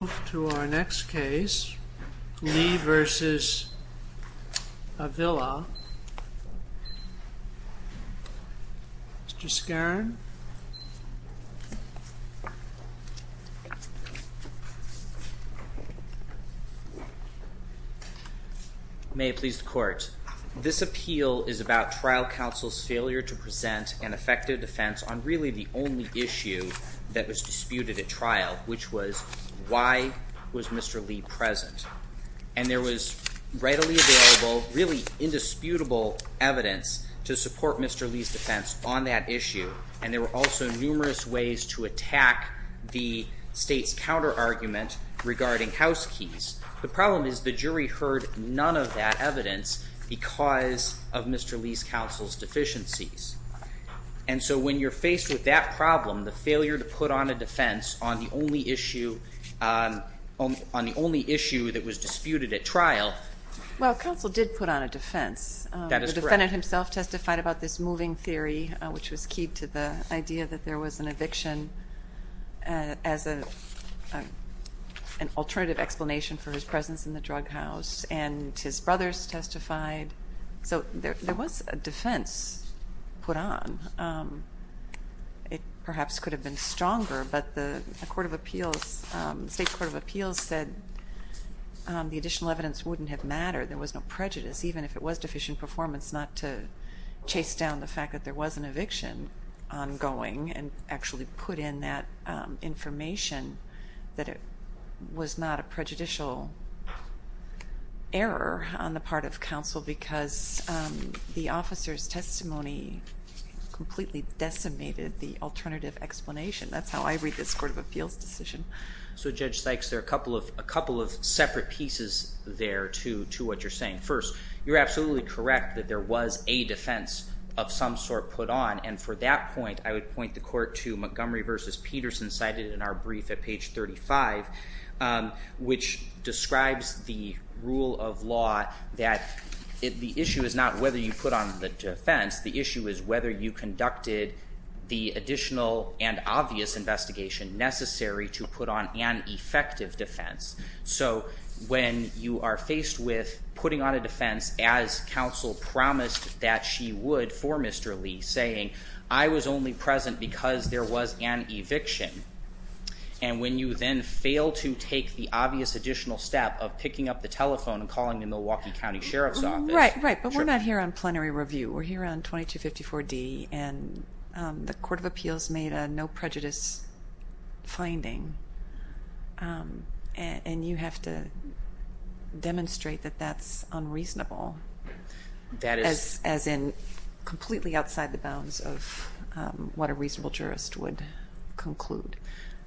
May it please the Court, this appeal is about trial counsel's failure to present an effective defense on really the only issue that was disputed at trial, which was, why was it that Lisa Avila's lawyer, Mr. Skerrin, did not present an effective defense? Why was Mr. Lee present? And there was readily available, really indisputable evidence to support Mr. Lee's defense on that issue, and there were also numerous ways to attack the state's counterargument regarding house keys. The problem is the jury heard none of that evidence because of Mr. Lee's counsel's deficiencies. And so when you're faced with that problem, the failure to put on a defense on the only issue, on the only issue that was disputed at trial. Well, counsel did put on a defense. That is correct. The defendant himself testified about this moving theory, which was key to the idea that there was an eviction as an alternative explanation for his presence in the drug house. And his brothers testified. So there was a defense put on. It perhaps could have been stronger, but the Court of Appeals, the State Court of Appeals said the additional evidence wouldn't have mattered. There was no prejudice, even if it was deficient performance, not to chase down the fact that there was an eviction ongoing and actually put in that information that it was not a prejudicial error on the part of counsel because the officer's testimony completely decimated the alternative explanation. That's how I read this Court of Appeals decision. So Judge Sykes, there are a couple of separate pieces there to what you're saying. First, you're absolutely correct that there was a defense of some sort put on. And for that point, I would point the Court to Montgomery v. Peterson, cited in our brief at page 35, which describes the rule of law that the issue is not whether you put on the defense. I was only present because there was an eviction. And when you then fail to take the obvious additional step of picking up the telephone and calling the Milwaukee County Sheriff's Office… …what a reasonable jurist would conclude.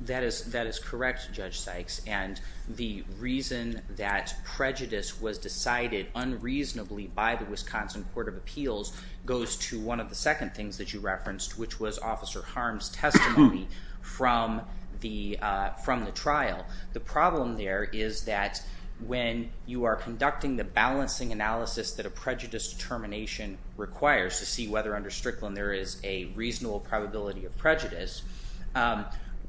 That is correct, Judge Sykes. And the reason that prejudice was decided unreasonably by the Wisconsin Court of Appeals goes to one of the second things that you referenced, which was Officer Harms' testimony from the trial. The problem there is that when you are conducting the balancing analysis that a prejudice determination requires to see whether under Strickland there is a reasonable probability of prejudice,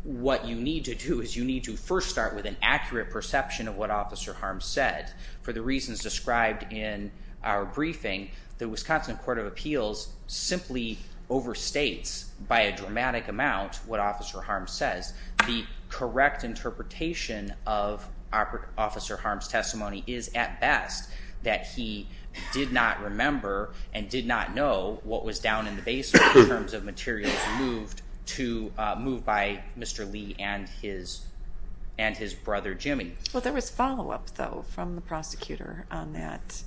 what you need to do is you need to first start with an accurate perception of what Officer Harms said. And for the reasons described in our briefing, the Wisconsin Court of Appeals simply overstates by a dramatic amount what Officer Harms says. The correct interpretation of Officer Harms' testimony is, at best, that he did not remember and did not know what was down in the basement in terms of materials moved by Mr. Lee and his brother, Jimmy. Well, there was follow-up, though, from the prosecutor on that.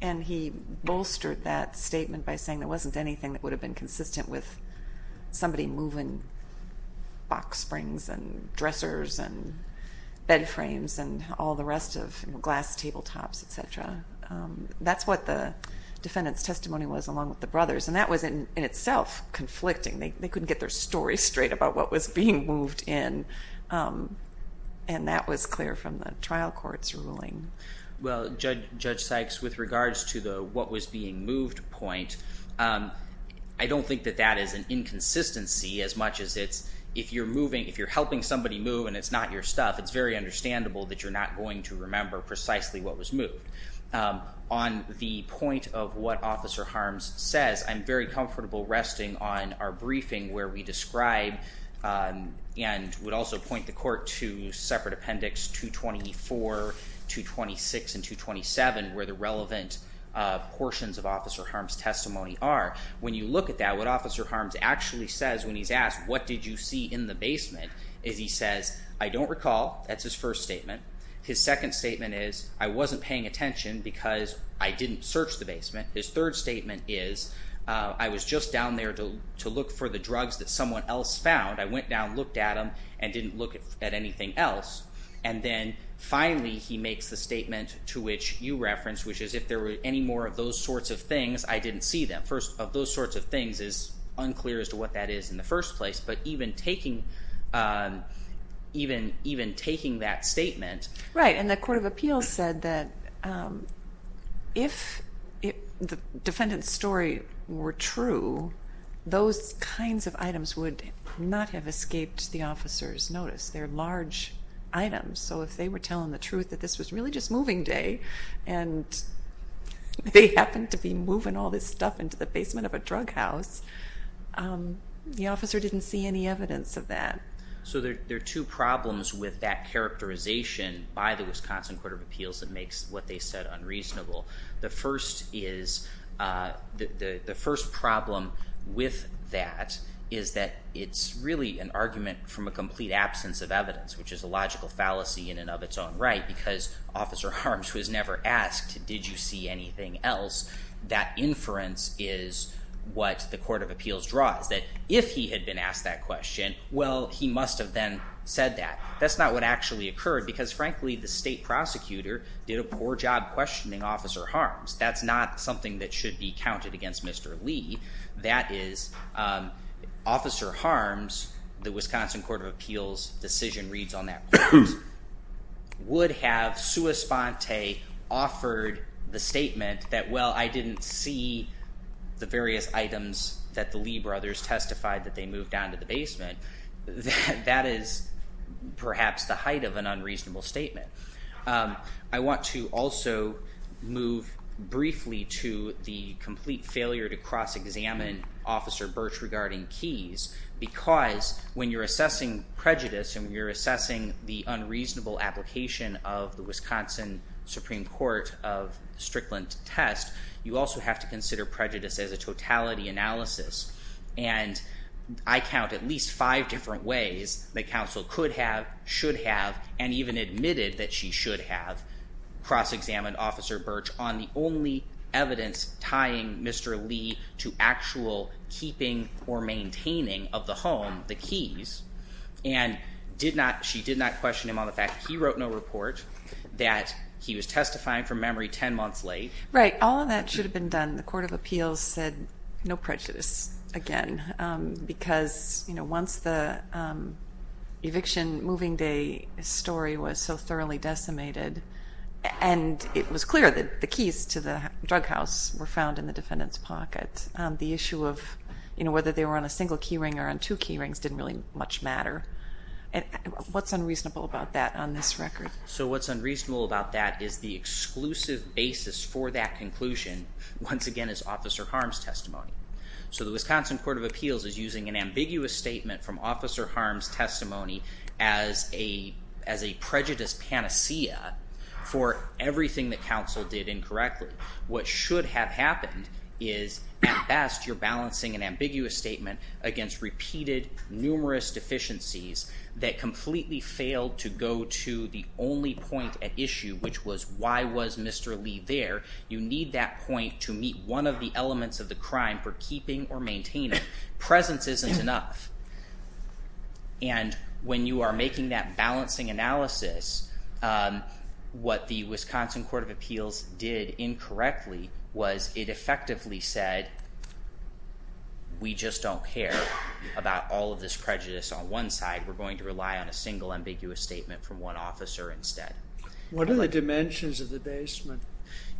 And he bolstered that statement by saying there wasn't anything that would have been consistent with somebody moving box springs and dressers and bed frames and all the rest of glass tabletops, etc. That's what the defendant's testimony was along with the brother's. And that was, in itself, conflicting. They couldn't get their story straight about what was being moved in. And that was clear from the trial court's ruling. Well, Judge Sykes, with regards to the what was being moved point, I don't think that that is an inconsistency as much as it's, if you're moving, if you're helping somebody move and it's not your stuff, it's very understandable that you're not going to remember precisely what was moved. On the point of what Officer Harms says, I'm very comfortable resting on our briefing where we describe and would also point the court to separate appendix 224, 226, and 227 where the relevant portions of Officer Harms' testimony are. Now, when you look at that, what Officer Harms actually says when he's asked, what did you see in the basement, is he says, I don't recall. That's his first statement. His second statement is, I wasn't paying attention because I didn't search the basement. His third statement is, I was just down there to look for the drugs that someone else found. I went down, looked at them, and didn't look at anything else. And then, finally, he makes the statement to which you referenced, which is, if there were any more of those sorts of things, I didn't see them. First, of those sorts of things is unclear as to what that is in the first place, but even taking that statement. Right, and the Court of Appeals said that if the defendant's story were true, those kinds of items would not have escaped the officer's notice. They're large items, so if they were telling the truth that this was really just moving day and they happened to be moving all this stuff into the basement of a drug house, the officer didn't see any evidence of that. So there are two problems with that characterization by the Wisconsin Court of Appeals that makes what they said unreasonable. The first problem with that is that it's really an argument from a complete absence of evidence, which is a logical fallacy in and of its own right, because Officer Harms, who has never asked, did you see anything else, that inference is what the Court of Appeals draws. That if he had been asked that question, well, he must have then said that. That's not what actually occurred because, frankly, the state prosecutor did a poor job questioning Officer Harms. That's not something that should be counted against Mr. Lee. That is, Officer Harms, the Wisconsin Court of Appeals decision reads on that point, would have sua sponte offered the statement that, well, I didn't see the various items that the Lee brothers testified that they moved down to the basement. That is perhaps the height of an unreasonable statement. I want to also move briefly to the complete failure to cross-examine Officer Birch regarding keys because when you're assessing prejudice and when you're assessing the unreasonable application of the Wisconsin Supreme Court of Strickland test, you also have to consider prejudice as a totality analysis. And I count at least five different ways that counsel could have, should have, and even admitted that she should have cross-examined Officer Birch on the only evidence tying Mr. Lee to actual keeping or maintaining of the home, the keys, and did not, she did not question him on the fact that he wrote no report, that he was testifying from memory ten months late. Right. All of that should have been done. The Court of Appeals said no prejudice again because once the eviction moving day story was so thoroughly decimated and it was clear that the keys to the drug house were found in the defendant's pocket, the issue of whether they were on a single key ring or on two key rings didn't really much matter. What's unreasonable about that on this record? So what's unreasonable about that is the exclusive basis for that conclusion once again is Officer Harms' testimony. So the Wisconsin Court of Appeals is using an ambiguous statement from Officer Harms' testimony as a prejudice panacea for everything that counsel did incorrectly. What should have happened is, at best, you're balancing an ambiguous statement against repeated, numerous deficiencies that completely failed to go to the only point at issue, which was why was Mr. Lee there. You need that point to meet one of the elements of the crime for keeping or maintaining. Presence isn't enough. And when you are making that balancing analysis, what the Wisconsin Court of Appeals did incorrectly was it effectively said, we just don't care about all of this prejudice on one side. We're going to rely on a single ambiguous statement from one officer instead. What are the dimensions of the basement?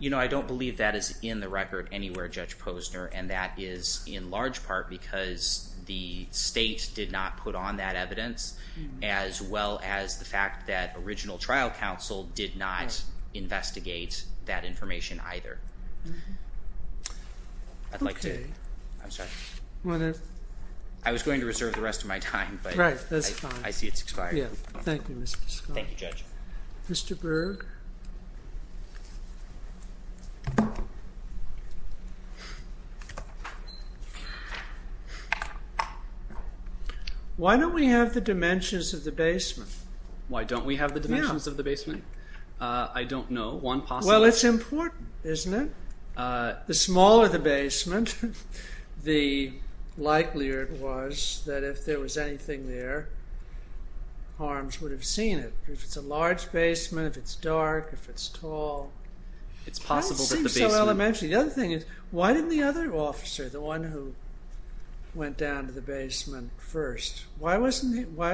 You know, I don't believe that is in the record anywhere, Judge Posner, and that is in large part because the state did not put on that evidence as well as the fact that original trial counsel did not investigate that information either. I'd like to. I'm sorry. I was going to reserve the rest of my time, but I see it's expired. Thank you, Mr. Scott. Thank you, Judge. Mr. Berg? Why don't we have the dimensions of the basement? Why don't we have the dimensions of the basement? I don't know. One possible. Well, it's important, isn't it? The smaller the basement, the likelier it was that if there was anything there, Harms would have seen it. If it's a large basement, if it's dark, if it's tall, it doesn't seem so elementary. The other thing is, why didn't the other officer, the one who went down to the basement first, why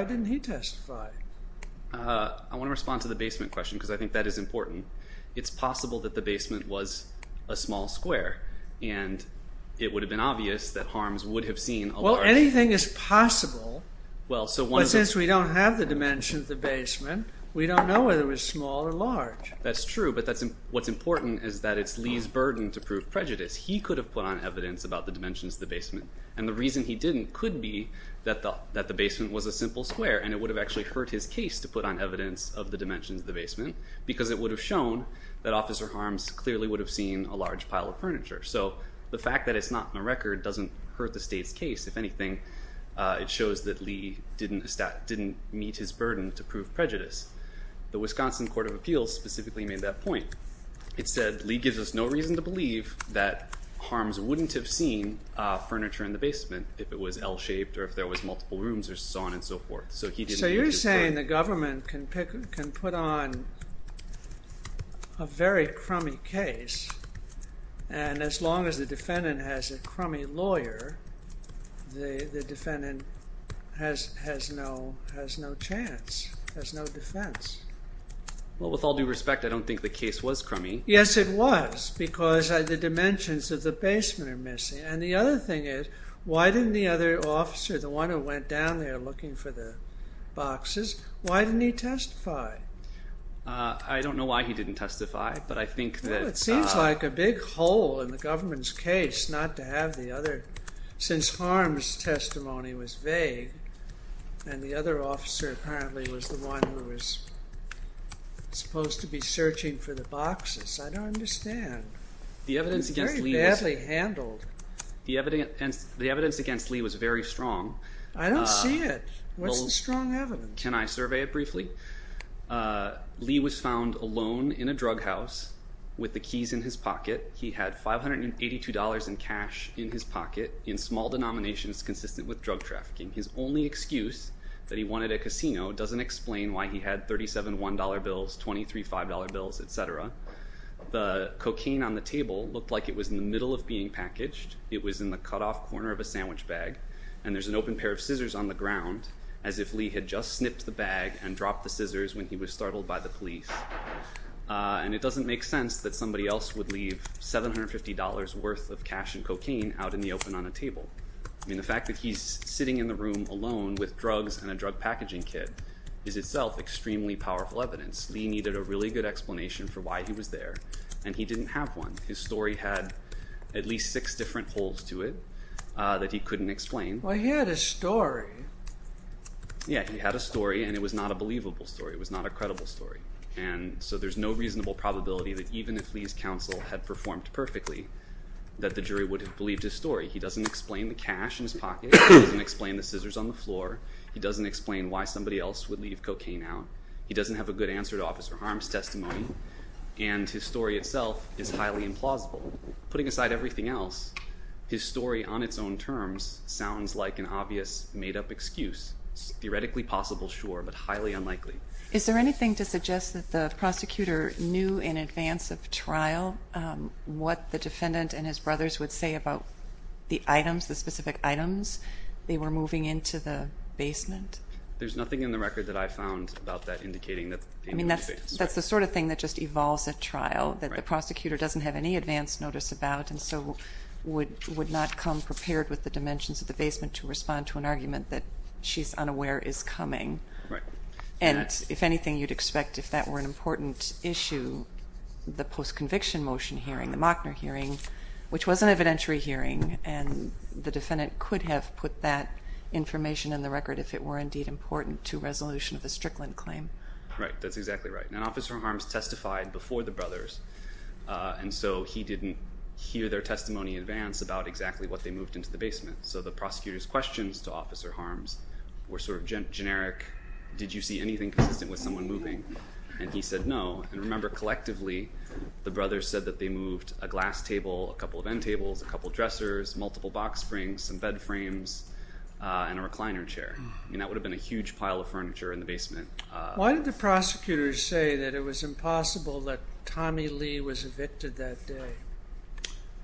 didn't he testify? I want to respond to the basement question because I think that is important. It's possible that the basement was a small square, and it would have been obvious that Harms would have seen a large… Well, anything is possible, but since we don't have the dimensions of the basement, we don't know whether it was small or large. That's true, but what's important is that it's Lee's burden to prove prejudice. He could have put on evidence about the dimensions of the basement, and the reason he didn't could be that the basement was a simple square, and it would have actually hurt his case to put on evidence of the dimensions of the basement, because it would have shown that Officer Harms clearly would have seen a large pile of furniture. The fact that it's not in the record doesn't hurt the state's case. If anything, it shows that Lee didn't meet his burden to prove prejudice. The Wisconsin Court of Appeals specifically made that point. It said, Lee gives us no reason to believe that Harms wouldn't have seen furniture in the basement if it was L-shaped, or if there was multiple rooms, or so on and so forth. So you're saying the government can put on a very crummy case, and as long as the defendant has a crummy lawyer, the defendant has no chance, has no defense. Well, with all due respect, I don't think the case was crummy. Yes, it was, because the dimensions of the basement are missing. And the other thing is, why didn't the other officer, the one who went down there looking for the boxes, why didn't he testify? I don't know why he didn't testify, but I think that... Well, it seems like a big hole in the government's case not to have the other, since Harms' testimony was vague, and the other officer apparently was the one who was supposed to be searching for the boxes. I don't understand. It was very badly handled. The evidence against Lee was very strong. I don't see it. What's the strong evidence? Can I survey it briefly? Lee was found alone in a drug house with the keys in his pocket. He had $582 in cash in his pocket in small denominations consistent with drug trafficking. His only excuse that he wanted a casino doesn't explain why he had $37, $1 bills, $23, $5 bills, etc. The cocaine on the table looked like it was in the middle of being packaged. It was in the cutoff corner of a sandwich bag, and there's an open pair of scissors on the ground, as if Lee had just snipped the bag and dropped the scissors when he was startled by the police. And it doesn't make sense that somebody else would leave $750 worth of cash and cocaine out in the open on a table. I mean, the fact that he's sitting in the room alone with drugs and a drug packaging kit is itself extremely powerful evidence. Lee needed a really good explanation for why he was there, and he didn't have one. His story had at least six different holes to it that he couldn't explain. Well, he had a story. Yeah, he had a story, and it was not a believable story. It was not a credible story. And so there's no reasonable probability that even if Lee's counsel had performed perfectly, that the jury would have believed his story. He doesn't explain the cash in his pocket. He doesn't explain the scissors on the floor. He doesn't explain why somebody else would leave cocaine out. He doesn't have a good answer to Officer Harms' testimony, and his story itself is highly implausible. Putting aside everything else, his story on its own terms sounds like an obvious made-up excuse. Theoretically possible, sure, but highly unlikely. Is there anything to suggest that the prosecutor knew in advance of trial what the defendant and his brothers would say about the items, the specific items they were moving into the basement? There's nothing in the record that I found about that indicating that the defendant would say this. I mean, that's the sort of thing that just evolves at trial, that the prosecutor doesn't have any advance notice about and so would not come prepared with the dimensions of the basement to respond to an argument that she's unaware is coming. Right. And if anything, you'd expect if that were an important issue, the post-conviction motion hearing, the Mockner hearing, which was an evidentiary hearing, and the defendant could have put that information in the record if it were indeed important to resolution of the Strickland claim. Right, that's exactly right. And Officer Harms testified before the brothers, and so he didn't hear their testimony in advance about exactly what they moved into the basement. So the prosecutor's questions to Officer Harms were sort of generic, did you see anything consistent with someone moving, and he said no. And remember, collectively, the brothers said that they moved a glass table, a couple of end tables, a couple of dressers, multiple box springs, some bed frames, and a recliner chair. I mean, that would have been a huge pile of furniture in the basement. Why did the prosecutor say that it was impossible that Tommy Lee was evicted that day?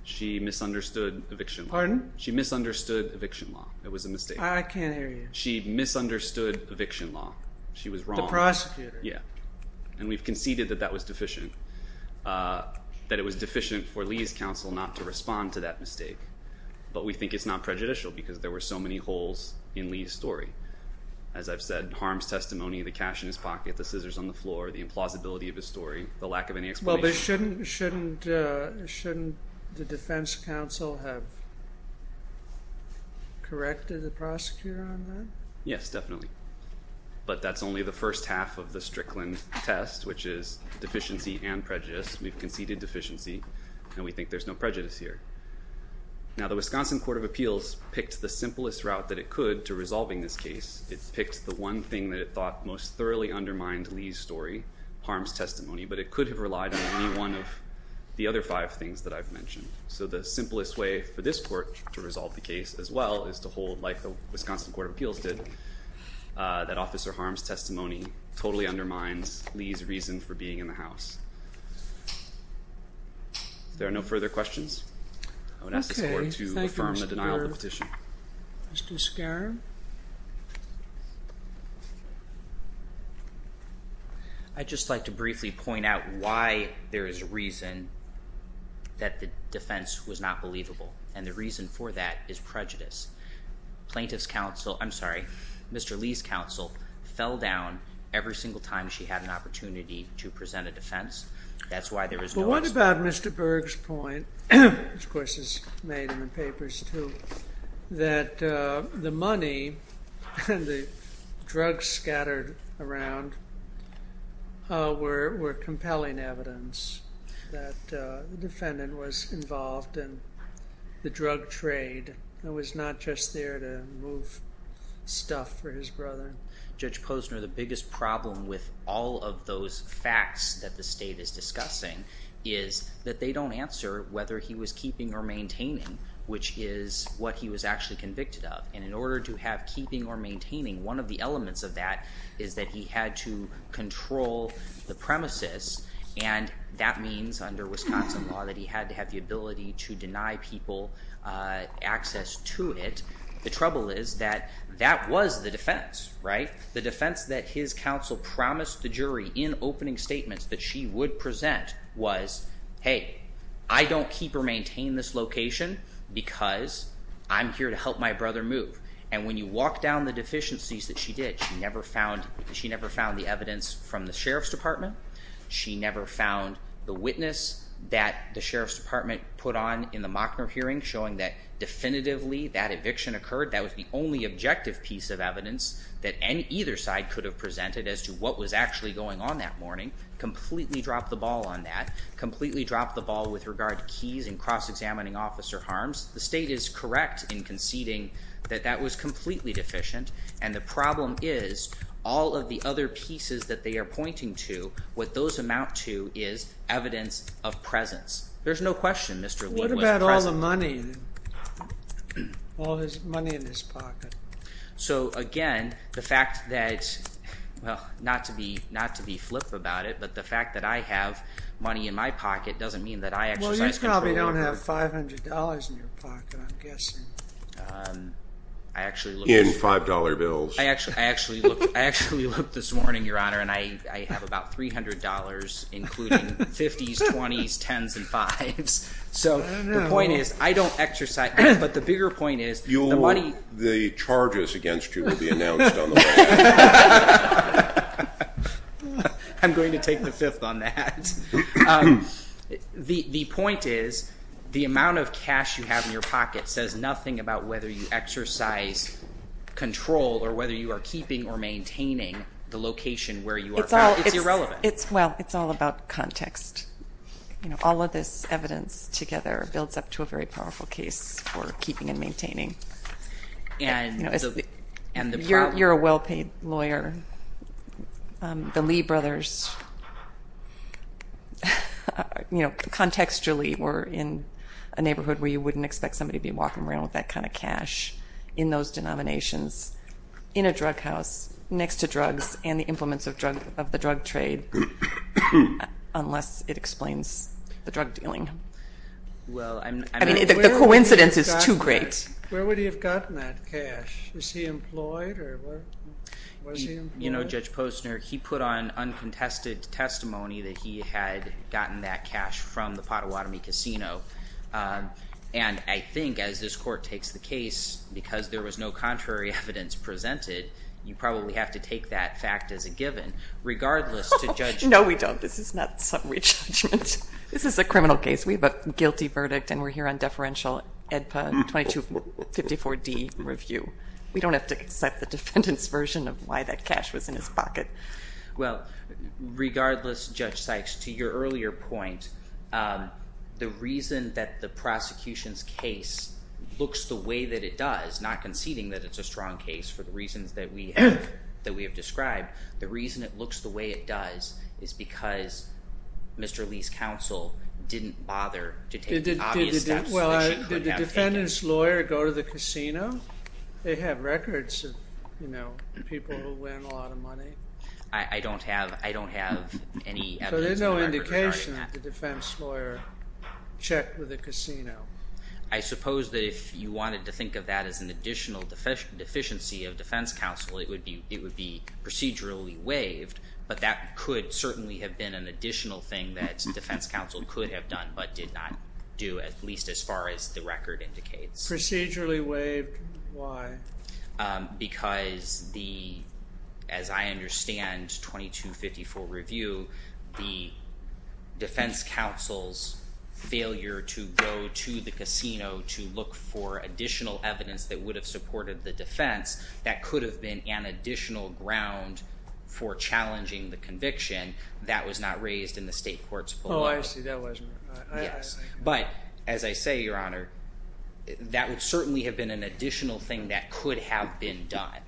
She misunderstood eviction law. Pardon? She misunderstood eviction law. It was a mistake. I can't hear you. She misunderstood eviction law. She was wrong. The prosecutor. Yeah. And we've conceded that that was deficient, that it was deficient for Lee's counsel not to respond to that mistake. But we think it's not prejudicial because there were so many holes in Lee's story. As I've said, Harms' testimony, the cash in his pocket, the scissors on the floor, the implausibility of his story, the lack of any explanation. Well, but shouldn't the defense counsel have corrected the prosecutor on that? Yes, definitely. But that's only the first half of the Strickland test, which is deficiency and prejudice. We've conceded deficiency, and we think there's no prejudice here. Now, the Wisconsin Court of Appeals picked the simplest route that it could to resolving this case. It picked the one thing that it thought most thoroughly undermined Lee's story, Harms' testimony, but it could have relied on any one of the other five things that I've mentioned. So the simplest way for this court to resolve the case as well is to hold, like the Wisconsin Court of Appeals did, that Officer Harms' testimony totally undermines Lee's reason for being in the house. If there are no further questions, I would ask this court to affirm the denial of the petition. Okay. Thank you, Mr. Baird. Mr. Skaram? I'd just like to briefly point out why there is reason that the defense was not believable, and the reason for that is prejudice. Plaintiff's counsel, I'm sorry, Mr. Lee's counsel fell down every single time she had an opportunity to present a defense. That's why there is no explanation. It's about Mr. Berg's point, which of course is made in the papers too, that the money and the drugs scattered around were compelling evidence that the defendant was involved in the drug trade and was not just there to move stuff for his brother. Judge Posner, the biggest problem with all of those facts that the state is discussing is that they don't answer whether he was keeping or maintaining, which is what he was actually convicted of. And in order to have keeping or maintaining, one of the elements of that is that he had to control the premises, and that means under Wisconsin law that he had to have the ability to deny people access to it. The trouble is that that was the defense, right? The defense that his counsel promised the jury in opening statements that she would present was, hey, I don't keep or maintain this location because I'm here to help my brother move. And when you walk down the deficiencies that she did, she never found the evidence from the Sheriff's Department. She never found the witness that the Sheriff's Department put on in the Mockner hearing showing that definitively that eviction occurred, that was the only objective piece of evidence that either side could have presented as to what was actually going on that morning, completely dropped the ball on that, completely dropped the ball with regard to keys and cross-examining officer harms. The state is correct in conceding that that was completely deficient, and the problem is all of the other pieces that they are pointing to, what those amount to is evidence of presence. There's no question, Mr. Wood was present. What about all the money, all his money in his pocket? So, again, the fact that, well, not to be flip about it, but the fact that I have money in my pocket doesn't mean that I exercise control over it. Well, you probably don't have $500 in your pocket, I'm guessing. In $5 bills. I actually looked this morning, Your Honor, and I have about $300, including 50s, 20s, 10s, and 5s. So the point is I don't exercise, but the bigger point is the money. The charges against you will be announced on the way. I'm going to take the fifth on that. The point is the amount of cash you have in your pocket says nothing about whether you exercise control or whether you are keeping or maintaining the location where you are found. It's irrelevant. Well, it's all about context. All of this evidence together builds up to a very powerful case for keeping and maintaining. You're a well-paid lawyer. The Lee brothers contextually were in a neighborhood where you wouldn't expect somebody to be walking around with that kind of cash in those denominations in a drug house next to drugs and the implements of the drug trade unless it explains the drug dealing. I mean, the coincidence is too great. Where would he have gotten that cash? Was he employed? You know, Judge Posner, he put on uncontested testimony that he had gotten that cash from the Pottawatomie Casino. And I think as this court takes the case, because there was no contrary evidence presented, you probably have to take that fact as a given regardless to Judge Sykes. No, we don't. This is not summary judgment. This is a criminal case. We have a guilty verdict, and we're here on deferential EDPA 2254D review. We don't have to accept the defendant's version of why that cash was in his pocket. Well, regardless, Judge Sykes, to your earlier point, the reason that the prosecution's case looks the way that it does, not conceding that it's a strong case for the reasons that we have described, the reason it looks the way it does is because Mr. Lee's counsel didn't bother to take the obvious steps. Did the defendant's lawyer go to the casino? They have records of, you know, people who win a lot of money. I don't have any evidence. So there's no indication that the defense lawyer checked with the casino. I suppose that if you wanted to think of that as an additional deficiency of defense counsel, it would be procedurally waived, but that could certainly have been an additional thing that defense counsel could have done but did not do at least as far as the record indicates. Procedurally waived, why? Because the, as I understand 2254 review, the defense counsel's failure to go to the casino to look for additional evidence that would have supported the defense, that could have been an additional ground for challenging the conviction. That was not raised in the state courts. Oh, I see. But as I say, Your Honor, that would certainly have been an additional thing that could have been done.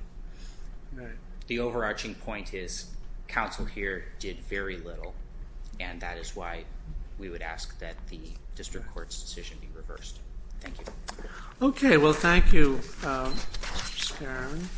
The overarching point is counsel here did very little, and that is why we would ask that the district court's decision be reversed. Thank you. Okay. Well, thank you, Mr. Sperling.